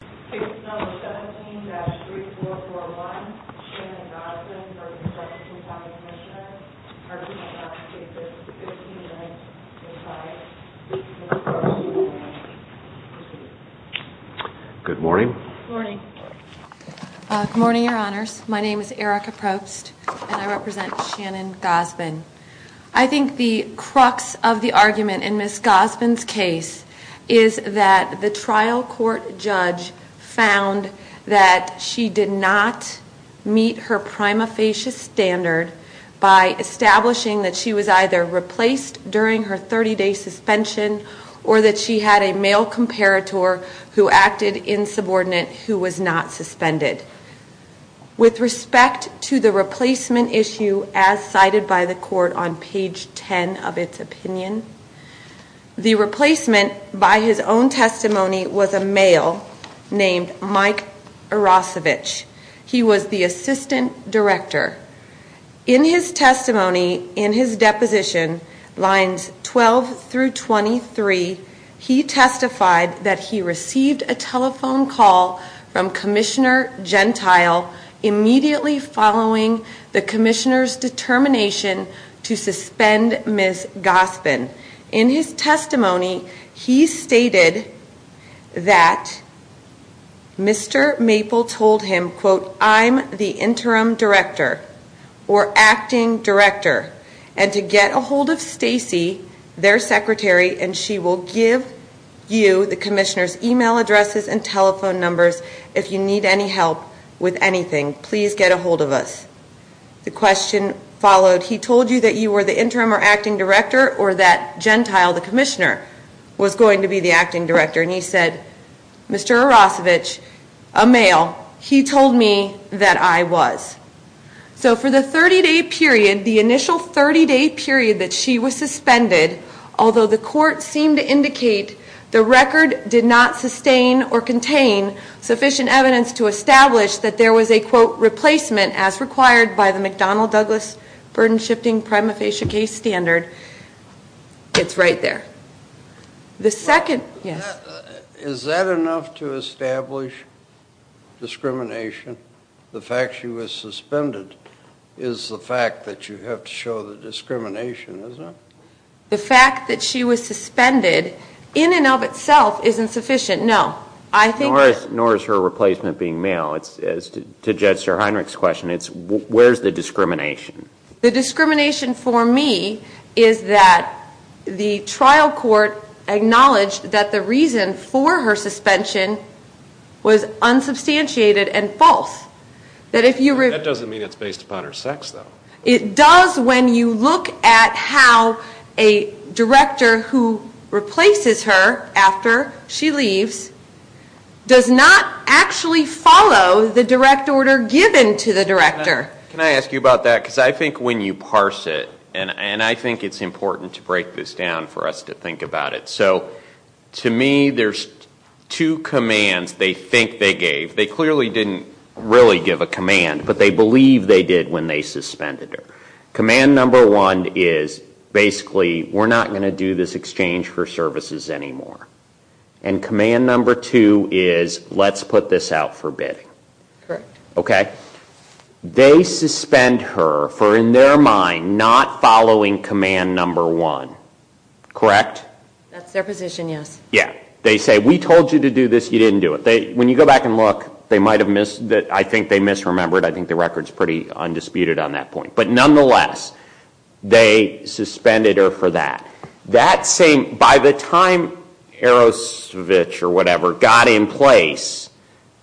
Case number 17-3441, Shannon Gosbin v. Jefferson County Commissioners. Argument on cases 15-05, 15-06. Good morning. Good morning. Good morning, your honors. My name is Erica Probst, and I represent Shannon Gosbin. I think the crux of the argument in Ms. Gosbin's case is that the trial court judge found that she did not meet her prima facie standard by establishing that she was either replaced during her 30-day suspension or that she had a male comparator who acted insubordinate who was not suspended. With respect to the replacement issue as cited by the court on page 10 of its opinion, the replacement by his own testimony was a male named Mike He was the assistant director. In his testimony, in his deposition, lines 12-23, he testified that he received a telephone call from Commissioner Gentile immediately following the Commissioner's determination to suspend Ms. Gosbin. In his testimony, he stated that Mr. Maple told him, quote, I'm the interim director or acting director, and to get a hold of Stacy, their secretary, and she will give you the Commissioner's email addresses and telephone numbers if you need any help with anything. Please get a hold of us. The question followed. He told you that you were the interim or acting director or that Gentile, the Commissioner, was going to be the acting director. And he said, Mr. Arosevich, a male, he told me that I was. So for the 30-day period, the initial 30-day period that she was suspended, although the court seemed to indicate the record did not sustain or burden-shifting prima facie case standard, it's right there. The second, yes. Is that enough to establish discrimination? The fact she was suspended is the fact that you have to show the discrimination, is it? The fact that she was suspended in and of itself isn't sufficient, no. Nor is her replacement being male. To Judge Sterhienrich's question, where's the discrimination? The discrimination for me is that the trial court acknowledged that the reason for her suspension was unsubstantiated and false. That doesn't mean it's based upon her sex, though. It does when you look at how a director who replaces her after she leaves does not actually follow the direct order given to the director. Can I ask you about that? Because I think when you parse it, and I think it's important to break this down for us to think about it. So to me, there's two commands they think they gave. They clearly didn't really give a command, but they believe they did when they suspended her. Command number one is basically, we're not going to do this exchange for services anymore. And command number two is, let's put this out for bidding. Correct. Okay? They suspend her for, in their mind, not following command number one. Correct? That's their position, yes. Yeah. They say, we told you to do this. You didn't do it. When you go back and look, I think they misremembered. I think the record's pretty undisputed on that point. But nonetheless, they suspended her for that. By the time Erosovich or whatever got in place,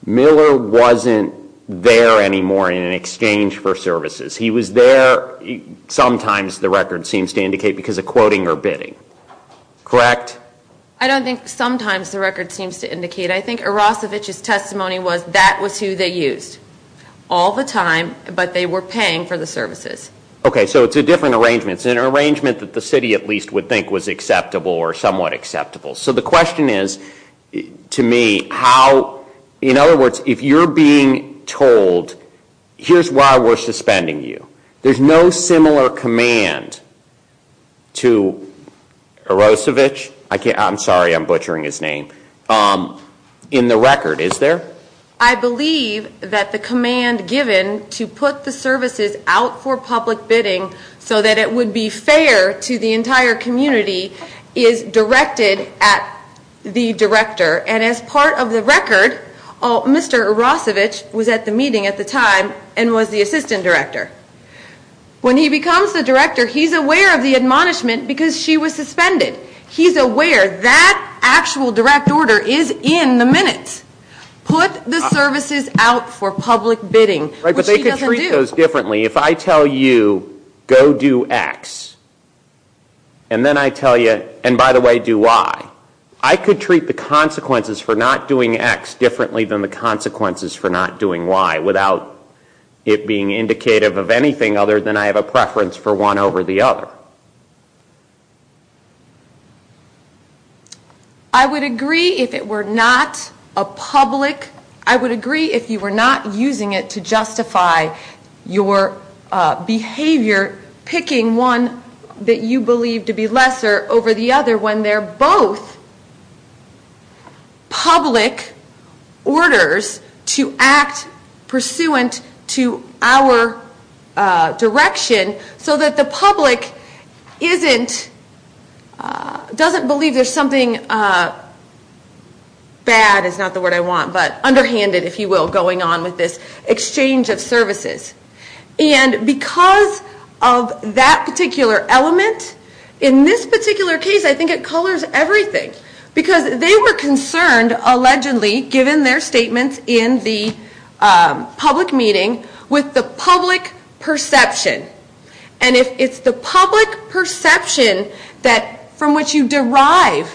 Miller wasn't there anymore in an exchange for services. He was there, sometimes the record seems to indicate, because of quoting or bidding. Correct? I don't think sometimes the record seems to indicate. I think Erosovich's testimony was that was who they used all the time, but they were paying for the services. Okay. So it's a different arrangement. It's an arrangement that the city, at least, would think was acceptable or somewhat acceptable. So the question is, to me, how, in other words, if you're being told, here's why we're suspending you. There's no similar command to Erosovich, I'm sorry, I'm butchering his name, in the record, is there? I believe that the command given to put the services out for public bidding so that it would be fair to the entire community is directed at the director. And as part of the record, Mr. Erosovich was at the meeting at the time and was the assistant director. When he becomes the director, he's aware of the admonishment because she was suspended. He's aware that actual direct order is in the minutes. Put the services out for public bidding, which he doesn't do. Right, but they could treat those differently. If I tell you, go do X, and then I tell you, and by the way, do Y, I could treat the consequences for not doing X differently than the consequences for not doing Y, without it being indicative of anything other than I have a preference for one over the other. I would agree if it were not a public, I would agree if you were not using it to justify your behavior, picking one that you believe to be lesser over the other when they're both public orders to act pursuant to our direction, so that the public doesn't believe there's something, bad is not the word I want, but underhanded, if you will, going on with this exchange of services. And because of that particular element, in this particular case, I think it colors everything. Because they were concerned, allegedly, given their statements in the public meeting, with the public perception. And if it's the public perception from which you derive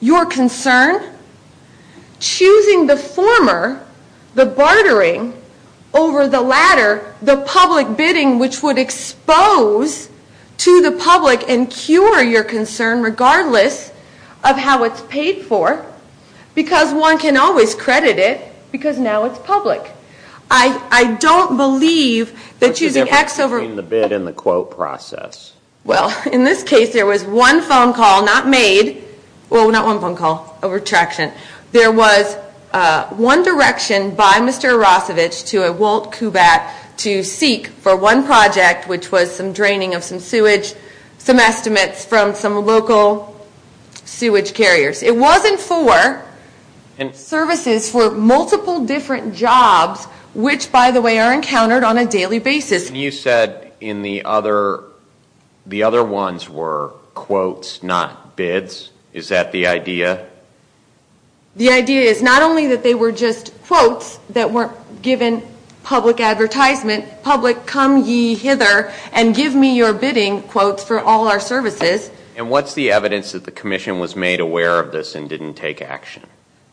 your concern, choosing the former, the bartering, over the latter, the public bidding, which would expose to the public and cure your concern, regardless of how it's paid for, because one can always credit it, because now it's public. I don't believe that choosing X over... What's the difference between the bid and the quote process? Well, in this case, there was one phone call, not made, well, not one phone call, a retraction. There was one direction by Mr. Arosevich to a Walt Kubat to seek for one project, which was some draining of some sewage, some estimates from some local sewage carriers. It wasn't for services for multiple different jobs, which, by the way, are encountered on a daily basis. You said in the other, the other ones were quotes, not bids. Is that the idea? The idea is not only that they were just quotes that weren't given public advertisement, public come ye hither and give me your bidding quotes for all our services. And what's the evidence that the commission was made aware of this and didn't take action?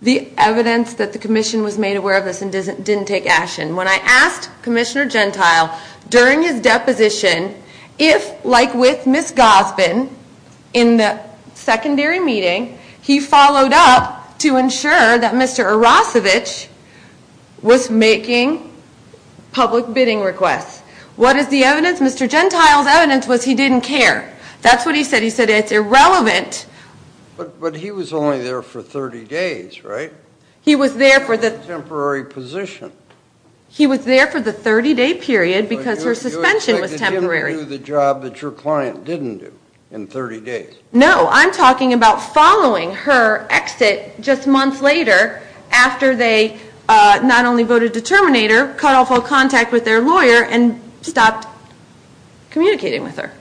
The evidence that the commission was made aware of this and didn't take action. When I asked Commissioner Gentile during his deposition if, like with Ms. Gosbin in the secondary meeting, he followed up to ensure that Mr. Arosevich was making public bidding requests. What is the evidence? Mr. Gentile's evidence was he didn't care. That's what he said. He said it's irrelevant. But he was only there for 30 days, right? He was there for the- Temporary position. He was there for the 30-day period because her suspension was temporary. But you expected him to do the job that your client didn't do in 30 days. No. I'm talking about following her exit just months later after they not only voted to terminate her, cut off all contact with their lawyer, and stopped communicating with her.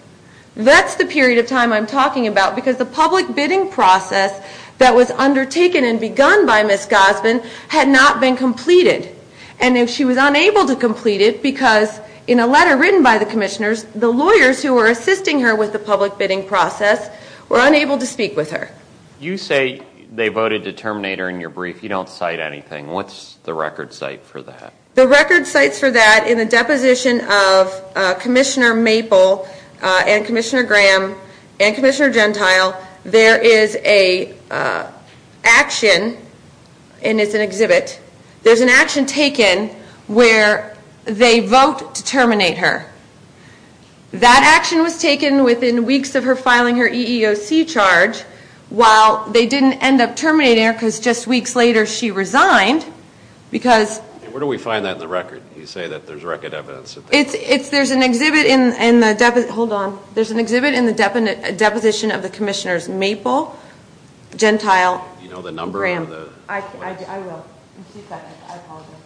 That's the period of time I'm talking about because the public bidding process that was undertaken and begun by Ms. Gosbin had not been completed. And she was unable to complete it because in a letter written by the commissioners, the lawyers who were assisting her with the public bidding process were unable to speak with her. You say they voted to terminate her in your brief. You don't cite anything. What's the record cite for that? The record cites for that in the deposition of Commissioner Maple and Commissioner Graham and Commissioner Gentile, there is an action, and it's an exhibit, there's an action taken where they vote to terminate her. That action was taken within weeks of her filing her EEOC charge, while they didn't end up terminating her because just weeks later she resigned because- Where do we find that in the record? You say that there's record evidence. There's an exhibit in the deposition of the commissioners Maple, Gentile, Graham. I will. I apologize.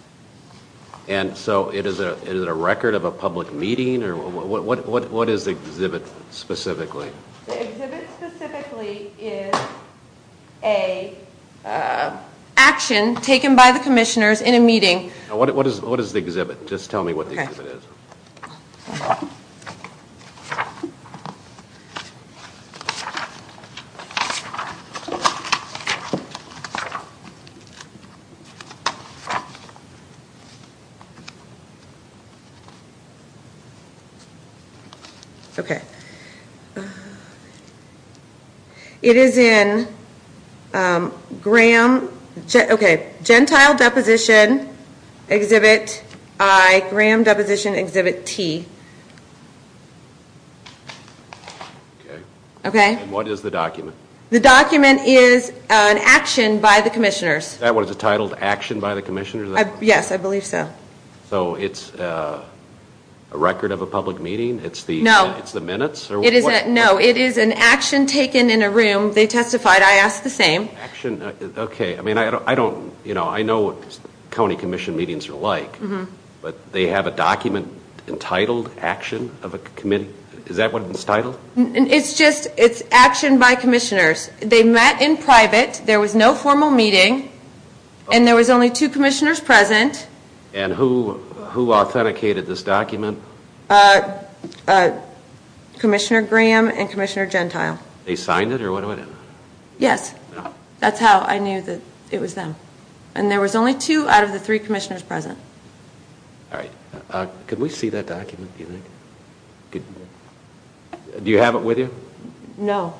And so is it a record of a public meeting? What is the exhibit specifically? The exhibit specifically is an action taken by the commissioners in a meeting. What is the exhibit? Just tell me what the exhibit is. Okay. It is in Graham, okay, Gentile Deposition Exhibit I, Graham Deposition Exhibit T. Okay. Okay. And what is the document? The document is an action by the commissioners. Is that what it's titled, action by the commissioners? Yes, I believe so. So it's a record of a public meeting? No. It's the minutes? No, it is an action taken in a room. They testified. I asked the same. Action, okay. I mean, I don't, you know, I know what county commission meetings are like. But they have a document entitled action of a committee. Is that what it's titled? It's just, it's action by commissioners. They met in private. There was no formal meeting. And there was only two commissioners present. And who authenticated this document? Commissioner Graham and Commissioner Gentile. They signed it or what? Yes. That's how I knew that it was them. And there was only two out of the three commissioners present. All right. Could we see that document, do you think? Do you have it with you? No.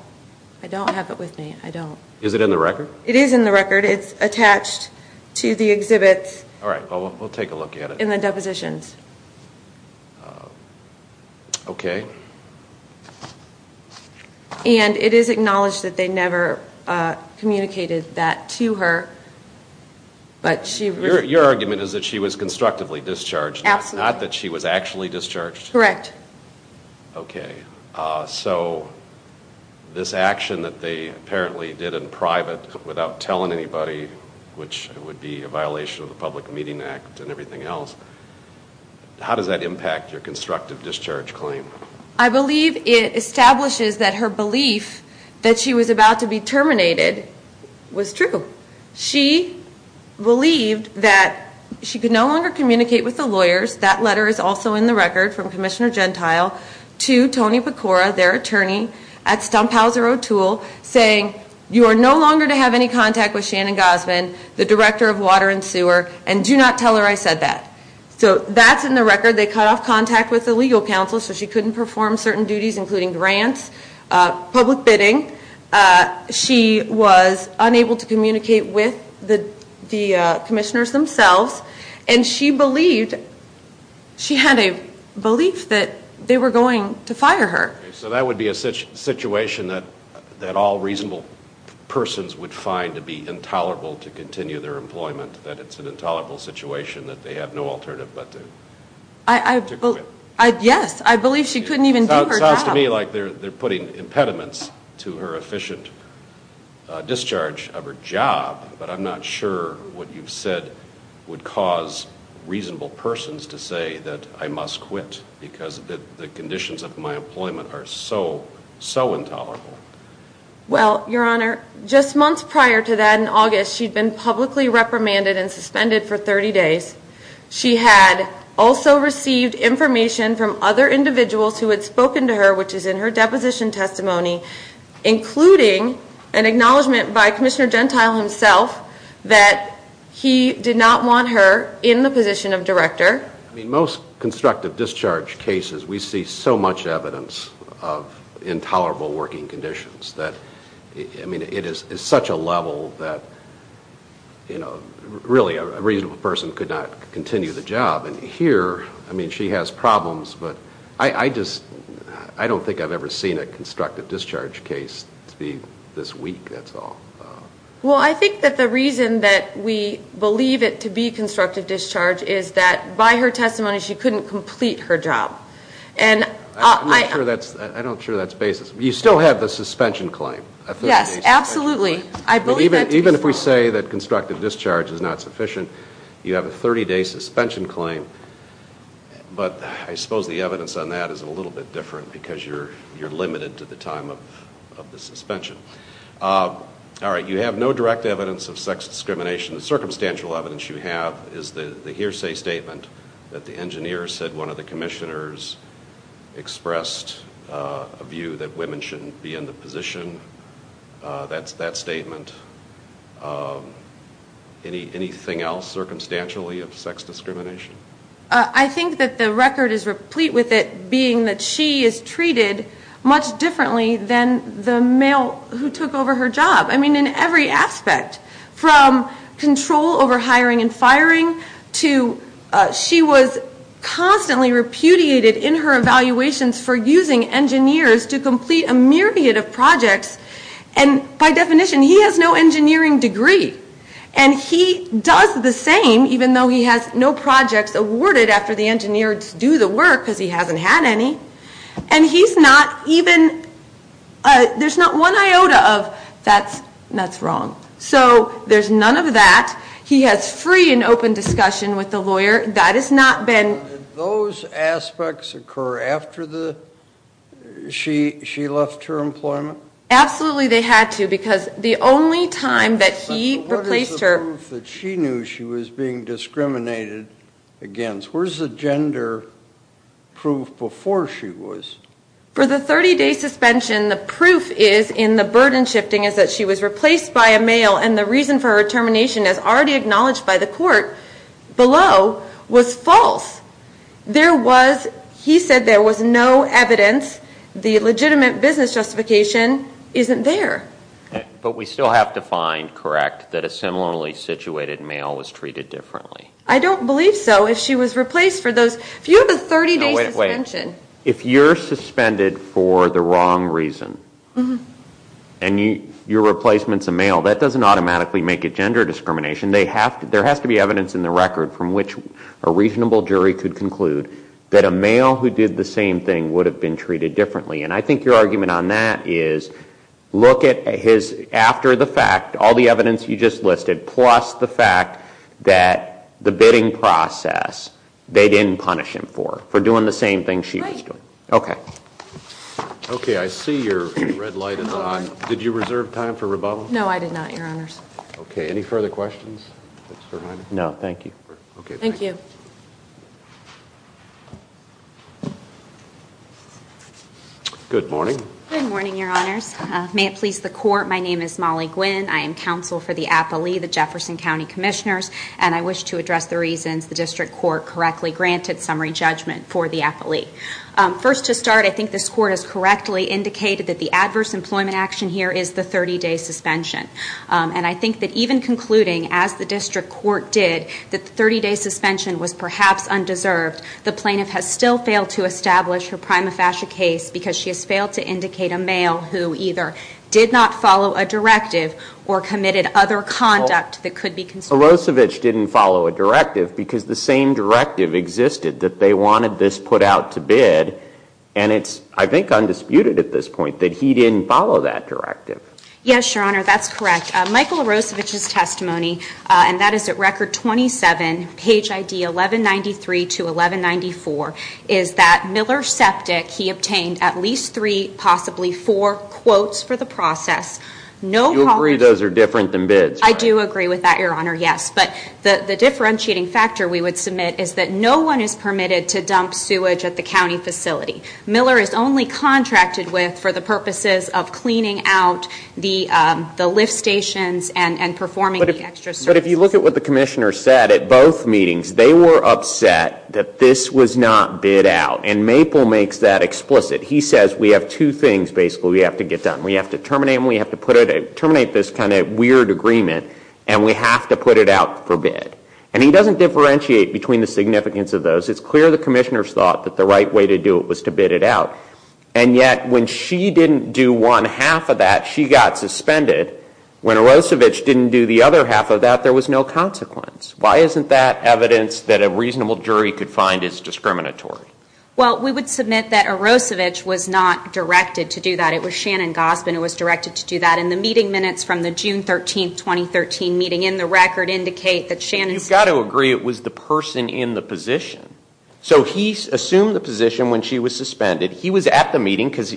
I don't have it with me. I don't. Is it in the record? It is in the record. It's attached to the exhibit. All right. Well, we'll take a look at it. In the depositions. Okay. And it is acknowledged that they never communicated that to her. But she. Your argument is that she was constructively discharged. Absolutely. Not that she was actually discharged. Correct. Okay. So this action that they apparently did in private without telling anybody, which would be a violation of the Public Meeting Act and everything else, how does that impact your constructive discharge claim? I believe it establishes that her belief that she was about to be terminated was true. That letter is also in the record from Commissioner Gentile to Tony Pecora, their attorney, at Stumphauser O'Toole, saying, you are no longer to have any contact with Shannon Gosman, the Director of Water and Sewer, and do not tell her I said that. So that's in the record. They cut off contact with the legal counsel, so she couldn't perform certain duties, including grants, public bidding. She was unable to communicate with the commissioners themselves, and she had a belief that they were going to fire her. So that would be a situation that all reasonable persons would find to be intolerable to continue their employment, that it's an intolerable situation that they have no alternative but to quit. Yes. I believe she couldn't even do her job. It sounds to me like they're putting impediments to her efficient discharge of her job, but I'm not sure what you've said would cause reasonable persons to say that I must quit because the conditions of my employment are so, so intolerable. Well, Your Honor, just months prior to that, in August, she'd been publicly reprimanded and suspended for 30 days. She had also received information from other individuals who had spoken to her, which is in her deposition testimony, including an acknowledgement by Commissioner Gentile himself that he did not want her in the position of director. I mean, most constructive discharge cases, we see so much evidence of intolerable working conditions. I mean, it is such a level that, you know, really a reasonable person could not continue the job. And here, I mean, she has problems, but I just don't think I've ever seen a constructive discharge case be this weak, that's all. Well, I think that the reason that we believe it to be constructive discharge is that by her testimony she couldn't complete her job. I'm not sure that's basis. You still have the suspension claim, a 30-day suspension claim. Yes, absolutely. I believe that to be so. Even if we say that constructive discharge is not sufficient, you have a 30-day suspension claim. But I suppose the evidence on that is a little bit different because you're limited to the time of the suspension. All right, you have no direct evidence of sex discrimination. The circumstantial evidence you have is the hearsay statement that the engineer said one of the commissioners expressed a view that women shouldn't be in the position, that statement. Anything else circumstantially of sex discrimination? I think that the record is replete with it being that she is treated much differently than the male who took over her job. I mean, in every aspect, from control over hiring and firing to she was constantly repudiated in her evaluations for using engineers to complete a myriad of projects. And by definition, he has no engineering degree. And he does the same even though he has no projects awarded after the engineers do the work because he hasn't had any. And he's not even, there's not one iota of that's wrong. So there's none of that. He has free and open discussion with the lawyer. That has not been. Did those aspects occur after she left her employment? Absolutely they had to because the only time that he replaced her. What is the proof that she knew she was being discriminated against? Where's the gender proof before she was? For the 30-day suspension, the proof is in the burden shifting is that she was replaced by a male and the reason for her termination as already acknowledged by the court below was false. There was, he said there was no evidence, the legitimate business justification isn't there. But we still have to find correct that a similarly situated male was treated differently. I don't believe so. If she was replaced for those, if you have a 30-day suspension. If you're suspended for the wrong reason and your replacement's a male, that doesn't automatically make it gender discrimination. There has to be evidence in the record from which a reasonable jury could conclude that a male who did the same thing would have been treated differently and I think your argument on that is look at his, after the fact, all the evidence you just listed plus the fact that the bidding process, they didn't punish him for doing the same thing she was doing. Okay. Okay, I see your red light is on. Did you reserve time for rebuttal? No, I did not, Your Honors. Okay, any further questions? No, thank you. Okay, thank you. Good morning. Good morning, Your Honors. May it please the Court, my name is Molly Gwynn. I am counsel for the appellee, the Jefferson County Commissioners, and I wish to address the reasons the district court correctly granted summary judgment for the appellee. First to start, I think this court has correctly indicated that the adverse employment action here is the 30-day suspension. And I think that even concluding, as the district court did, that the 30-day suspension was perhaps undeserved, the plaintiff has still failed to establish her prima facie case because she has failed to indicate a male who either did not follow a directive or committed other conduct that could be considered. Well, Milosevic didn't follow a directive because the same directive existed that they wanted this put out to bid and it's, I think, undisputed at this point that he didn't follow that directive. Yes, Your Honor, that's correct. Michael Milosevic's testimony, and that is at Record 27, page ID 1193 to 1194, is that Miller septic, he obtained at least three, possibly four, quotes for the process. You agree those are different than bids, right? I do agree with that, Your Honor, yes. But the differentiating factor we would submit is that no one is permitted to dump sewage at the county facility. Miller is only contracted with for the purposes of cleaning out the lift stations and performing the extra service. But if you look at what the Commissioner said at both meetings, they were upset that this was not bid out. And Maple makes that explicit. He says we have two things, basically, we have to get done. We have to terminate this kind of weird agreement and we have to put it out for bid. And he doesn't differentiate between the significance of those. It's clear the Commissioner's thought that the right way to do it was to bid it out. And yet, when she didn't do one half of that, she got suspended. When Milosevic didn't do the other half of that, there was no consequence. Why isn't that evidence that a reasonable jury could find as discriminatory? Well, we would submit that Milosevic was not directed to do that. It was Shannon Gossman who was directed to do that. And the meeting minutes from the June 13, 2013 meeting in the Record indicate that Shannon said I don't agree it was the person in the position. So he assumed the position when she was suspended. He was at the meeting because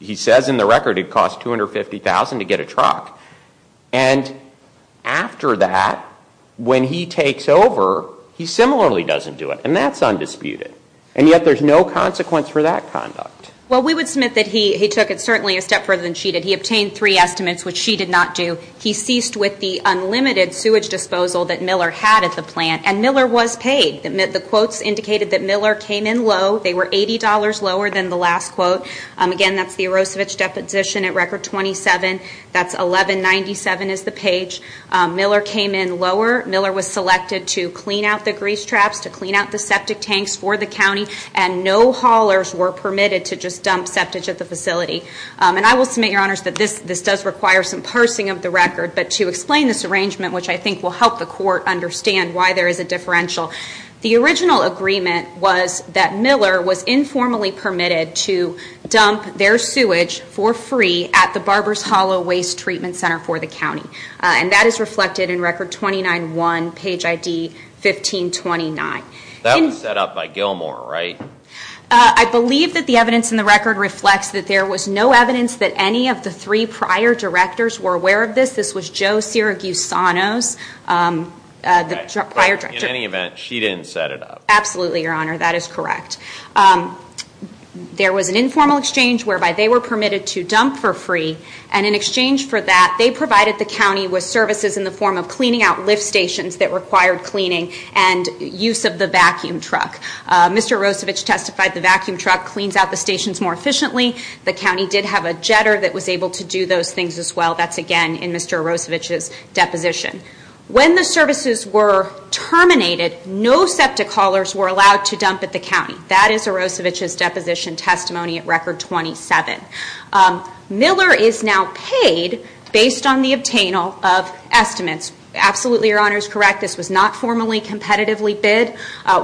he says in the Record it cost $250,000 to get a truck. And after that, when he takes over, he similarly doesn't do it. And that's undisputed. And yet there's no consequence for that conduct. Well, we would submit that he took it certainly a step further than she did. He obtained three estimates, which she did not do. He ceased with the unlimited sewage disposal that Miller had at the plant. And Miller was paid. The quotes indicated that Miller came in low. They were $80 lower than the last quote. Again, that's the Milosevic deposition at Record 27. That's 1197 is the page. Miller came in lower. Miller was selected to clean out the grease traps, to clean out the septic tanks for the county. And no haulers were permitted to just dump septage at the facility. And I will submit, Your Honors, that this does require some parsing of the record. But to explain this arrangement, which I think will help the court understand why there is a differential, the original agreement was that Miller was informally permitted to dump their sewage for free at the Barber's Hollow Waste Treatment Center for the county. And that is reflected in Record 29-1, page ID 1529. That was set up by Gilmore, right? I believe that the evidence in the record reflects that there was no evidence that any of the three prior directors were aware of this. This was Joe Siragusanos, the prior director. In any event, she didn't set it up. Absolutely, Your Honor. That is correct. There was an informal exchange whereby they were permitted to dump for free. And in exchange for that, they provided the county with services in the form of cleaning out lift stations that required cleaning and use of the vacuum truck. Mr. Arosevich testified the vacuum truck cleans out the stations more efficiently. The county did have a jetter that was able to do those things as well. That's, again, in Mr. Arosevich's deposition. When the services were terminated, no septic haulers were allowed to dump at the county. That is Arosevich's deposition testimony at Record 27. Miller is now paid based on the obtainal of estimates. Absolutely, Your Honor, is correct. This was not formally competitively bid.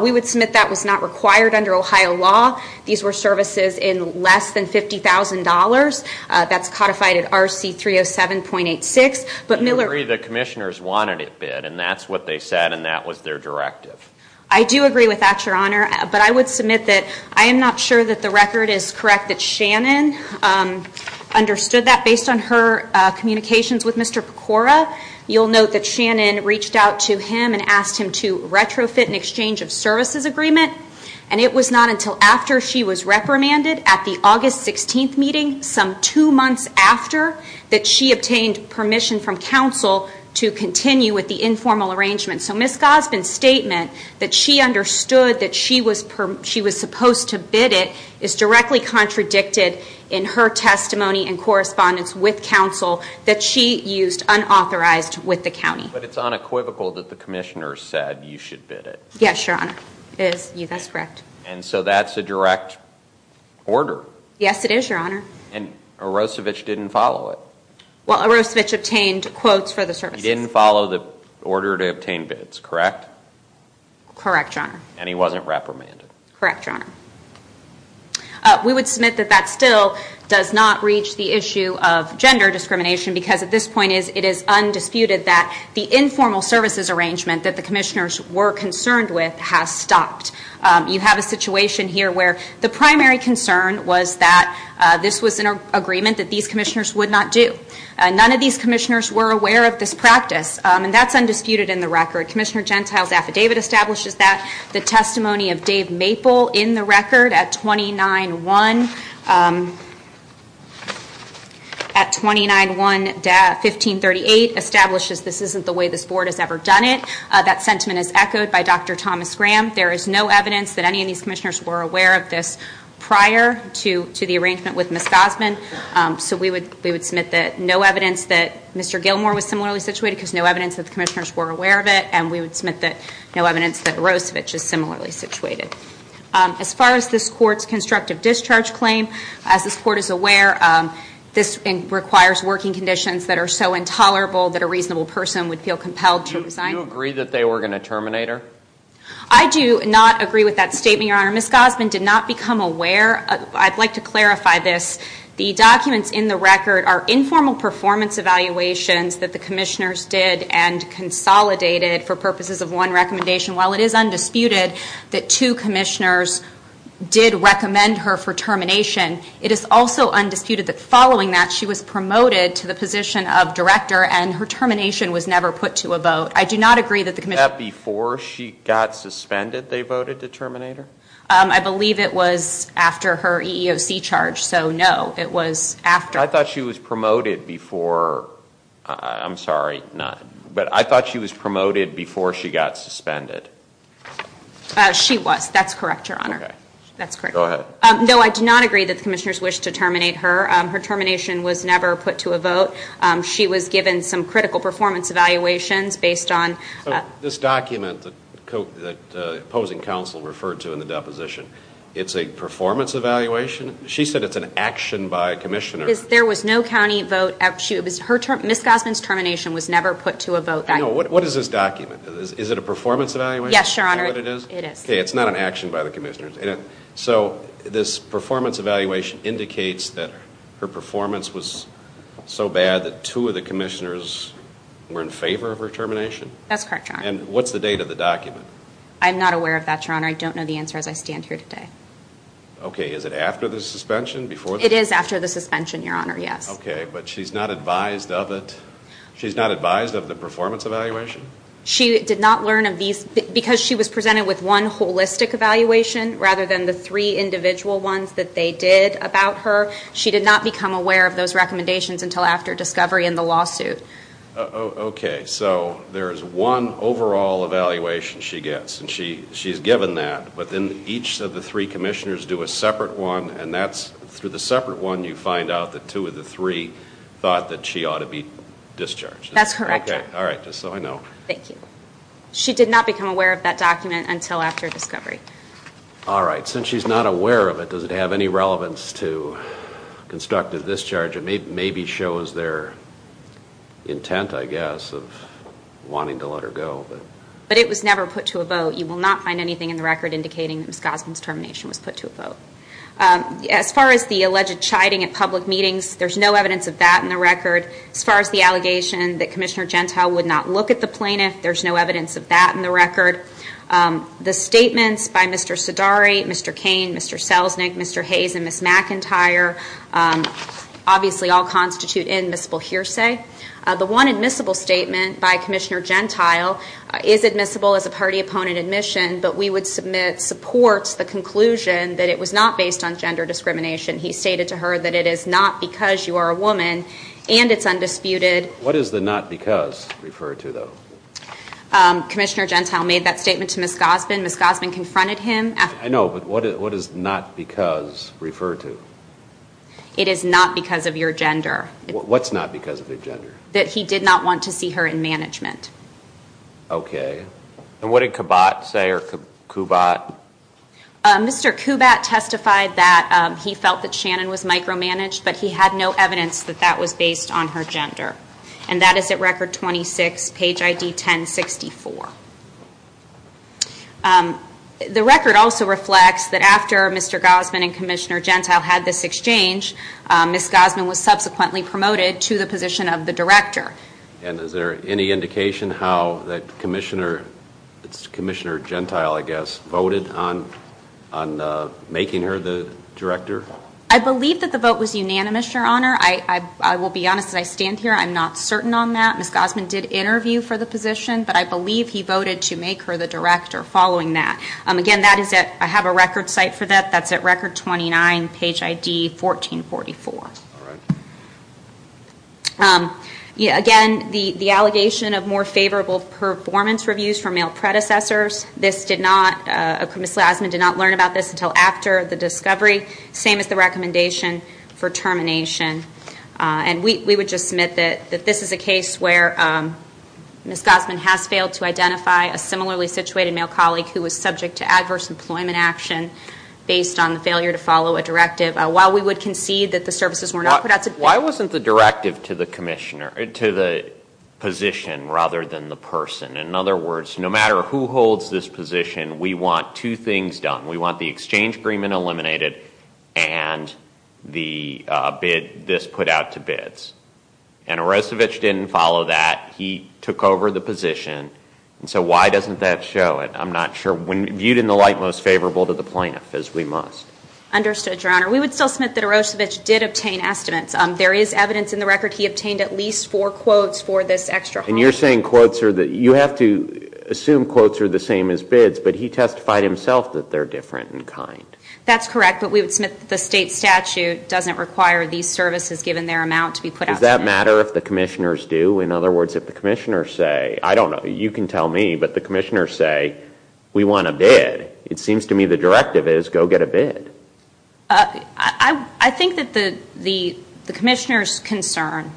We would submit that was not required under Ohio law. These were services in less than $50,000. That's codified at RC 307.86. Do you agree the commissioners wanted it bid, and that's what they said, and that was their directive? I do agree with that, Your Honor. But I would submit that I am not sure that the record is correct that Shannon understood that. Based on her communications with Mr. Pecora, you'll note that Shannon reached out to him and asked him to retrofit an exchange of services agreement, and it was not until after she was reprimanded at the August 16th meeting, some two months after that she obtained permission from counsel to continue with the informal arrangement. So Ms. Gosbin's statement that she understood that she was supposed to bid it is directly contradicted in her testimony and correspondence with counsel that she used unauthorized with the county. But it's unequivocal that the commissioners said you should bid it. Yes, Your Honor, it is. That's correct. And so that's a direct order. Yes, it is, Your Honor. And Arosevich didn't follow it. Well, Arosevich obtained quotes for the services. He didn't follow the order to obtain bids, correct? Correct, Your Honor. And he wasn't reprimanded. Correct, Your Honor. We would submit that that still does not reach the issue of gender discrimination because at this point it is undisputed that the informal services arrangement that the commissioners were concerned with has stopped. You have a situation here where the primary concern was that this was an agreement that these commissioners would not do. None of these commissioners were aware of this practice, and that's undisputed in the record. Commissioner Gentile's affidavit establishes that. The testimony of Dave Maple in the record at 29-1-1538 establishes this isn't the way this board has ever done it. That sentiment is echoed by Dr. Thomas Graham. There is no evidence that any of these commissioners were aware of this prior to the arrangement with Ms. Gosman. So we would submit that no evidence that Mr. Gilmore was similarly situated because no evidence that the commissioners were aware of it, and we would submit that no evidence that Rosevich is similarly situated. As far as this Court's constructive discharge claim, as this Court is aware, this requires working conditions that are so intolerable that a reasonable person would feel compelled to resign. Do you agree that they were going to terminate her? I do not agree with that statement, Your Honor. Ms. Gosman did not become aware. I'd like to clarify this. The documents in the record are informal performance evaluations that the commissioners did and consolidated for purposes of one recommendation. While it is undisputed that two commissioners did recommend her for termination, it is also undisputed that following that she was promoted to the position of director and her termination was never put to a vote. I do not agree that the commissioners Was that before she got suspended they voted to terminate her? I believe it was after her EEOC charge, so no. It was after. I thought she was promoted before. I'm sorry. But I thought she was promoted before she got suspended. She was. That's correct, Your Honor. That's correct. Go ahead. No, I do not agree that the commissioners wished to terminate her. Her termination was never put to a vote. She was given some critical performance evaluations based on This document that the opposing counsel referred to in the deposition, it's a performance evaluation? She said it's an action by commissioners. There was no county vote. Ms. Gosman's termination was never put to a vote. What is this document? Is it a performance evaluation? Yes, Your Honor. Is that what it is? It is. It's not an action by the commissioners. So this performance evaluation indicates that her performance was so bad that two of the commissioners were in favor of her termination? That's correct, Your Honor. And what's the date of the document? I'm not aware of that, Your Honor. I don't know the answer as I stand here today. Okay. Is it after the suspension? It is after the suspension, Your Honor, yes. Okay. But she's not advised of it? She's not advised of the performance evaluation? She did not learn of these because she was presented with one holistic evaluation rather than the three individual ones that they did about her. She did not become aware of those recommendations until after discovery in the lawsuit. Okay. So there is one overall evaluation she gets, and she's given that, but then each of the three commissioners do a separate one, and that's through the separate one you find out that two of the three thought that she ought to be discharged. That's correct. Okay. All right. Just so I know. Thank you. She did not become aware of that document until after discovery. All right. Since she's not aware of it, does it have any relevance to constructive discharge? It maybe shows their intent, I guess, of wanting to let her go. But it was never put to a vote. You will not find anything in the record indicating that Ms. Gosman's termination was put to a vote. As far as the alleged chiding at public meetings, there's no evidence of that in the record. As far as the allegation that Commissioner Gentile would not look at the plaintiff, there's no evidence of that in the record. The statements by Mr. Sidari, Mr. Cain, Mr. Selznick, Mr. Hayes, and Ms. McIntyre obviously all constitute admissible hearsay. The one admissible statement by Commissioner Gentile is admissible as a party-opponent admission, but we would submit supports the conclusion that it was not based on gender discrimination. He stated to her that it is not because you are a woman and it's undisputed. What does the not because refer to, though? Commissioner Gentile made that statement to Ms. Gosman. Ms. Gosman confronted him. I know, but what does not because refer to? It is not because of your gender. What's not because of your gender? That he did not want to see her in management. Okay. And what did Kubat say or Kubat? Mr. Kubat testified that he felt that Shannon was micromanaged, but he had no evidence that that was based on her gender. And that is at record 26, page ID 1064. The record also reflects that after Mr. Gosman and Commissioner Gentile had this exchange, Ms. Gosman was subsequently promoted to the position of the director. And is there any indication how Commissioner Gentile, I guess, voted on making her the director? I believe that the vote was unanimous, Your Honor. I will be honest as I stand here. I'm not certain on that. Ms. Gosman did interview for the position, but I believe he voted to make her the director following that. Again, that is at, I have a record site for that. That's at record 29, page ID 1444. All right. Again, the allegation of more favorable performance reviews for male predecessors. This did not, Ms. Gosman did not learn about this until after the discovery. Same as the recommendation for termination. And we would just submit that this is a case where Ms. Gosman has failed to identify a similarly situated male colleague who was subject to adverse employment action based on the failure to follow a directive. While we would concede that the services were not put out to date. Why wasn't the directive to the position rather than the person? In other words, no matter who holds this position, we want two things done. We want the exchange agreement eliminated and the bid, this put out to bids. And Arosevich didn't follow that. He took over the position. And so why doesn't that show? I'm not sure. Viewed in the light most favorable to the plaintiff as we must. Understood, Your Honor. We would still submit that Arosevich did obtain estimates. There is evidence in the record he obtained at least four quotes for this extra. And you're saying quotes are, you have to assume quotes are the same as bids. But he testified himself that they're different in kind. That's correct. But we would submit that the state statute doesn't require these services given their amount to be put out to bids. Does that matter if the commissioners do? In other words, if the commissioners say, I don't know, you can tell me. But the commissioners say, we want a bid. It seems to me the directive is go get a bid. I think that the commissioner's concern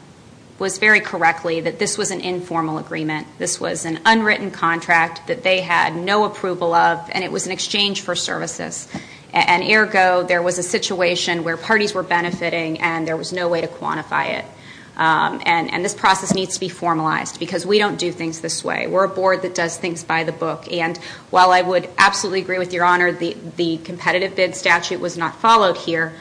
was very correctly that this was an informal agreement. This was an unwritten contract that they had no approval of, and it was an exchange for services. And ergo, there was a situation where parties were benefiting and there was no way to quantify it. And this process needs to be formalized because we don't do things this way. We're a board that does things by the book. And while I would absolutely agree with Your Honor, the competitive bid statute was not followed here,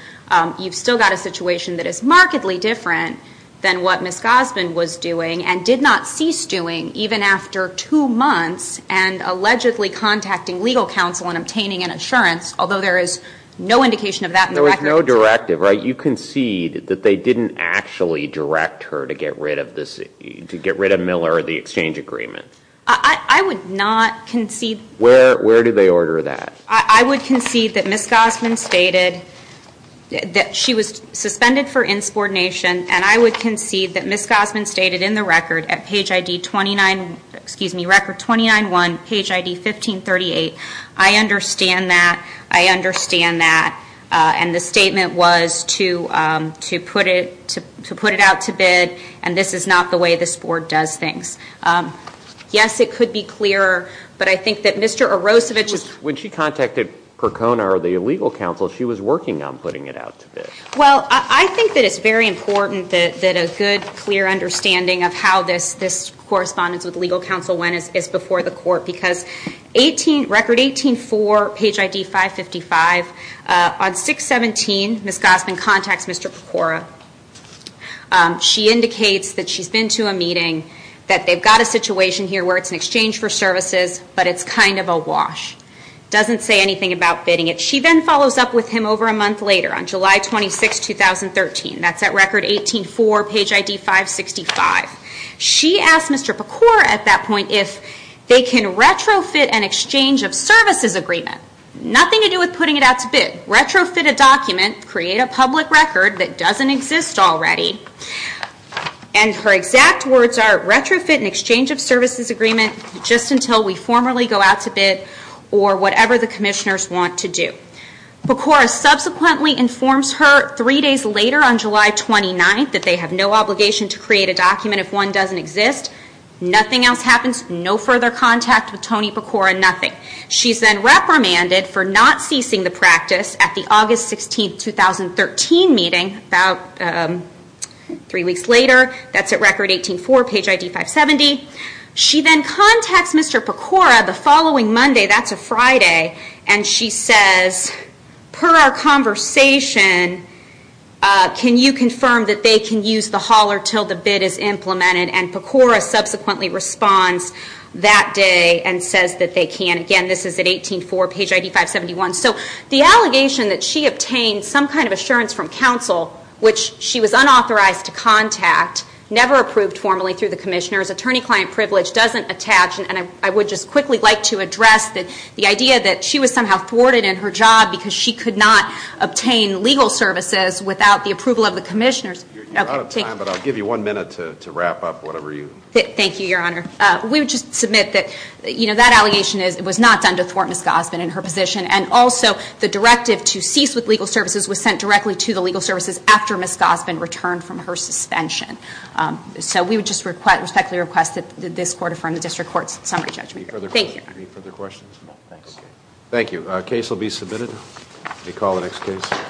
you've still got a situation that is markedly different than what Ms. Gosbin was doing and did not cease doing even after two months and allegedly contacting legal counsel and obtaining an assurance, although there is no indication of that in the record. There was no directive, right? You concede that they didn't actually direct her to get rid of Miller or the exchange agreement. I would not concede. Where did they order that? I would concede that Ms. Gosbin stated that she was suspended for insubordination, and I would concede that Ms. Gosbin stated in the record at page ID 29, excuse me, record 29-1, page ID 1538, I understand that, I understand that, and the statement was to put it out to bid, and this is not the way this board does things. Yes, it could be clearer, but I think that Mr. Arosevich When she contacted Percona or the legal counsel, she was working on putting it out to bid. Well, I think that it's very important that a good, clear understanding of how this correspondence with legal counsel went is before the court, because record 18-4, page ID 555, on 6-17, Ms. Gosbin contacts Mr. Pecora. She indicates that she's been to a meeting, that they've got a situation here where it's an exchange for services, but it's kind of a wash. Doesn't say anything about bidding it. She then follows up with him over a month later on July 26, 2013. That's at record 18-4, page ID 565. She asked Mr. Pecora at that point if they can retrofit an exchange of services agreement. Nothing to do with putting it out to bid. Retrofit a document, create a public record that doesn't exist already, and her exact words are, retrofit an exchange of services agreement just until we formally go out to bid or whatever the commissioners want to do. Pecora subsequently informs her three days later on July 29th that they have no obligation to create a document if one doesn't exist. Nothing else happens. No further contact with Tony Pecora. Nothing. She's then reprimanded for not ceasing the practice at the August 16, 2013 meeting, about three weeks later. That's at record 18-4, page ID 570. She then contacts Mr. Pecora the following Monday, that's a Friday, and she says, per our conversation, can you confirm that they can use the hauler until the bid is implemented? And Pecora subsequently responds that day and says that they can. Again, this is at 18-4, page ID 571. So the allegation that she obtained some kind of assurance from counsel, which she was unauthorized to contact, never approved formally through the commissioners, attorney-client privilege doesn't attach, and I would just quickly like to address the idea that she was somehow thwarted in her job because she could not obtain legal services without the approval of the commissioners. You're out of time, but I'll give you one minute to wrap up whatever you. Thank you, Your Honor. We would just submit that that allegation was not done to thwart Ms. Gosbin and her position, and also the directive to cease with legal services was sent directly to the legal services after Ms. Gosbin returned from her suspension. So we would just respectfully request that this court affirm the district court's summary judgment. Any further questions? No, thanks. Thank you. The case will be submitted. Let me call the next case.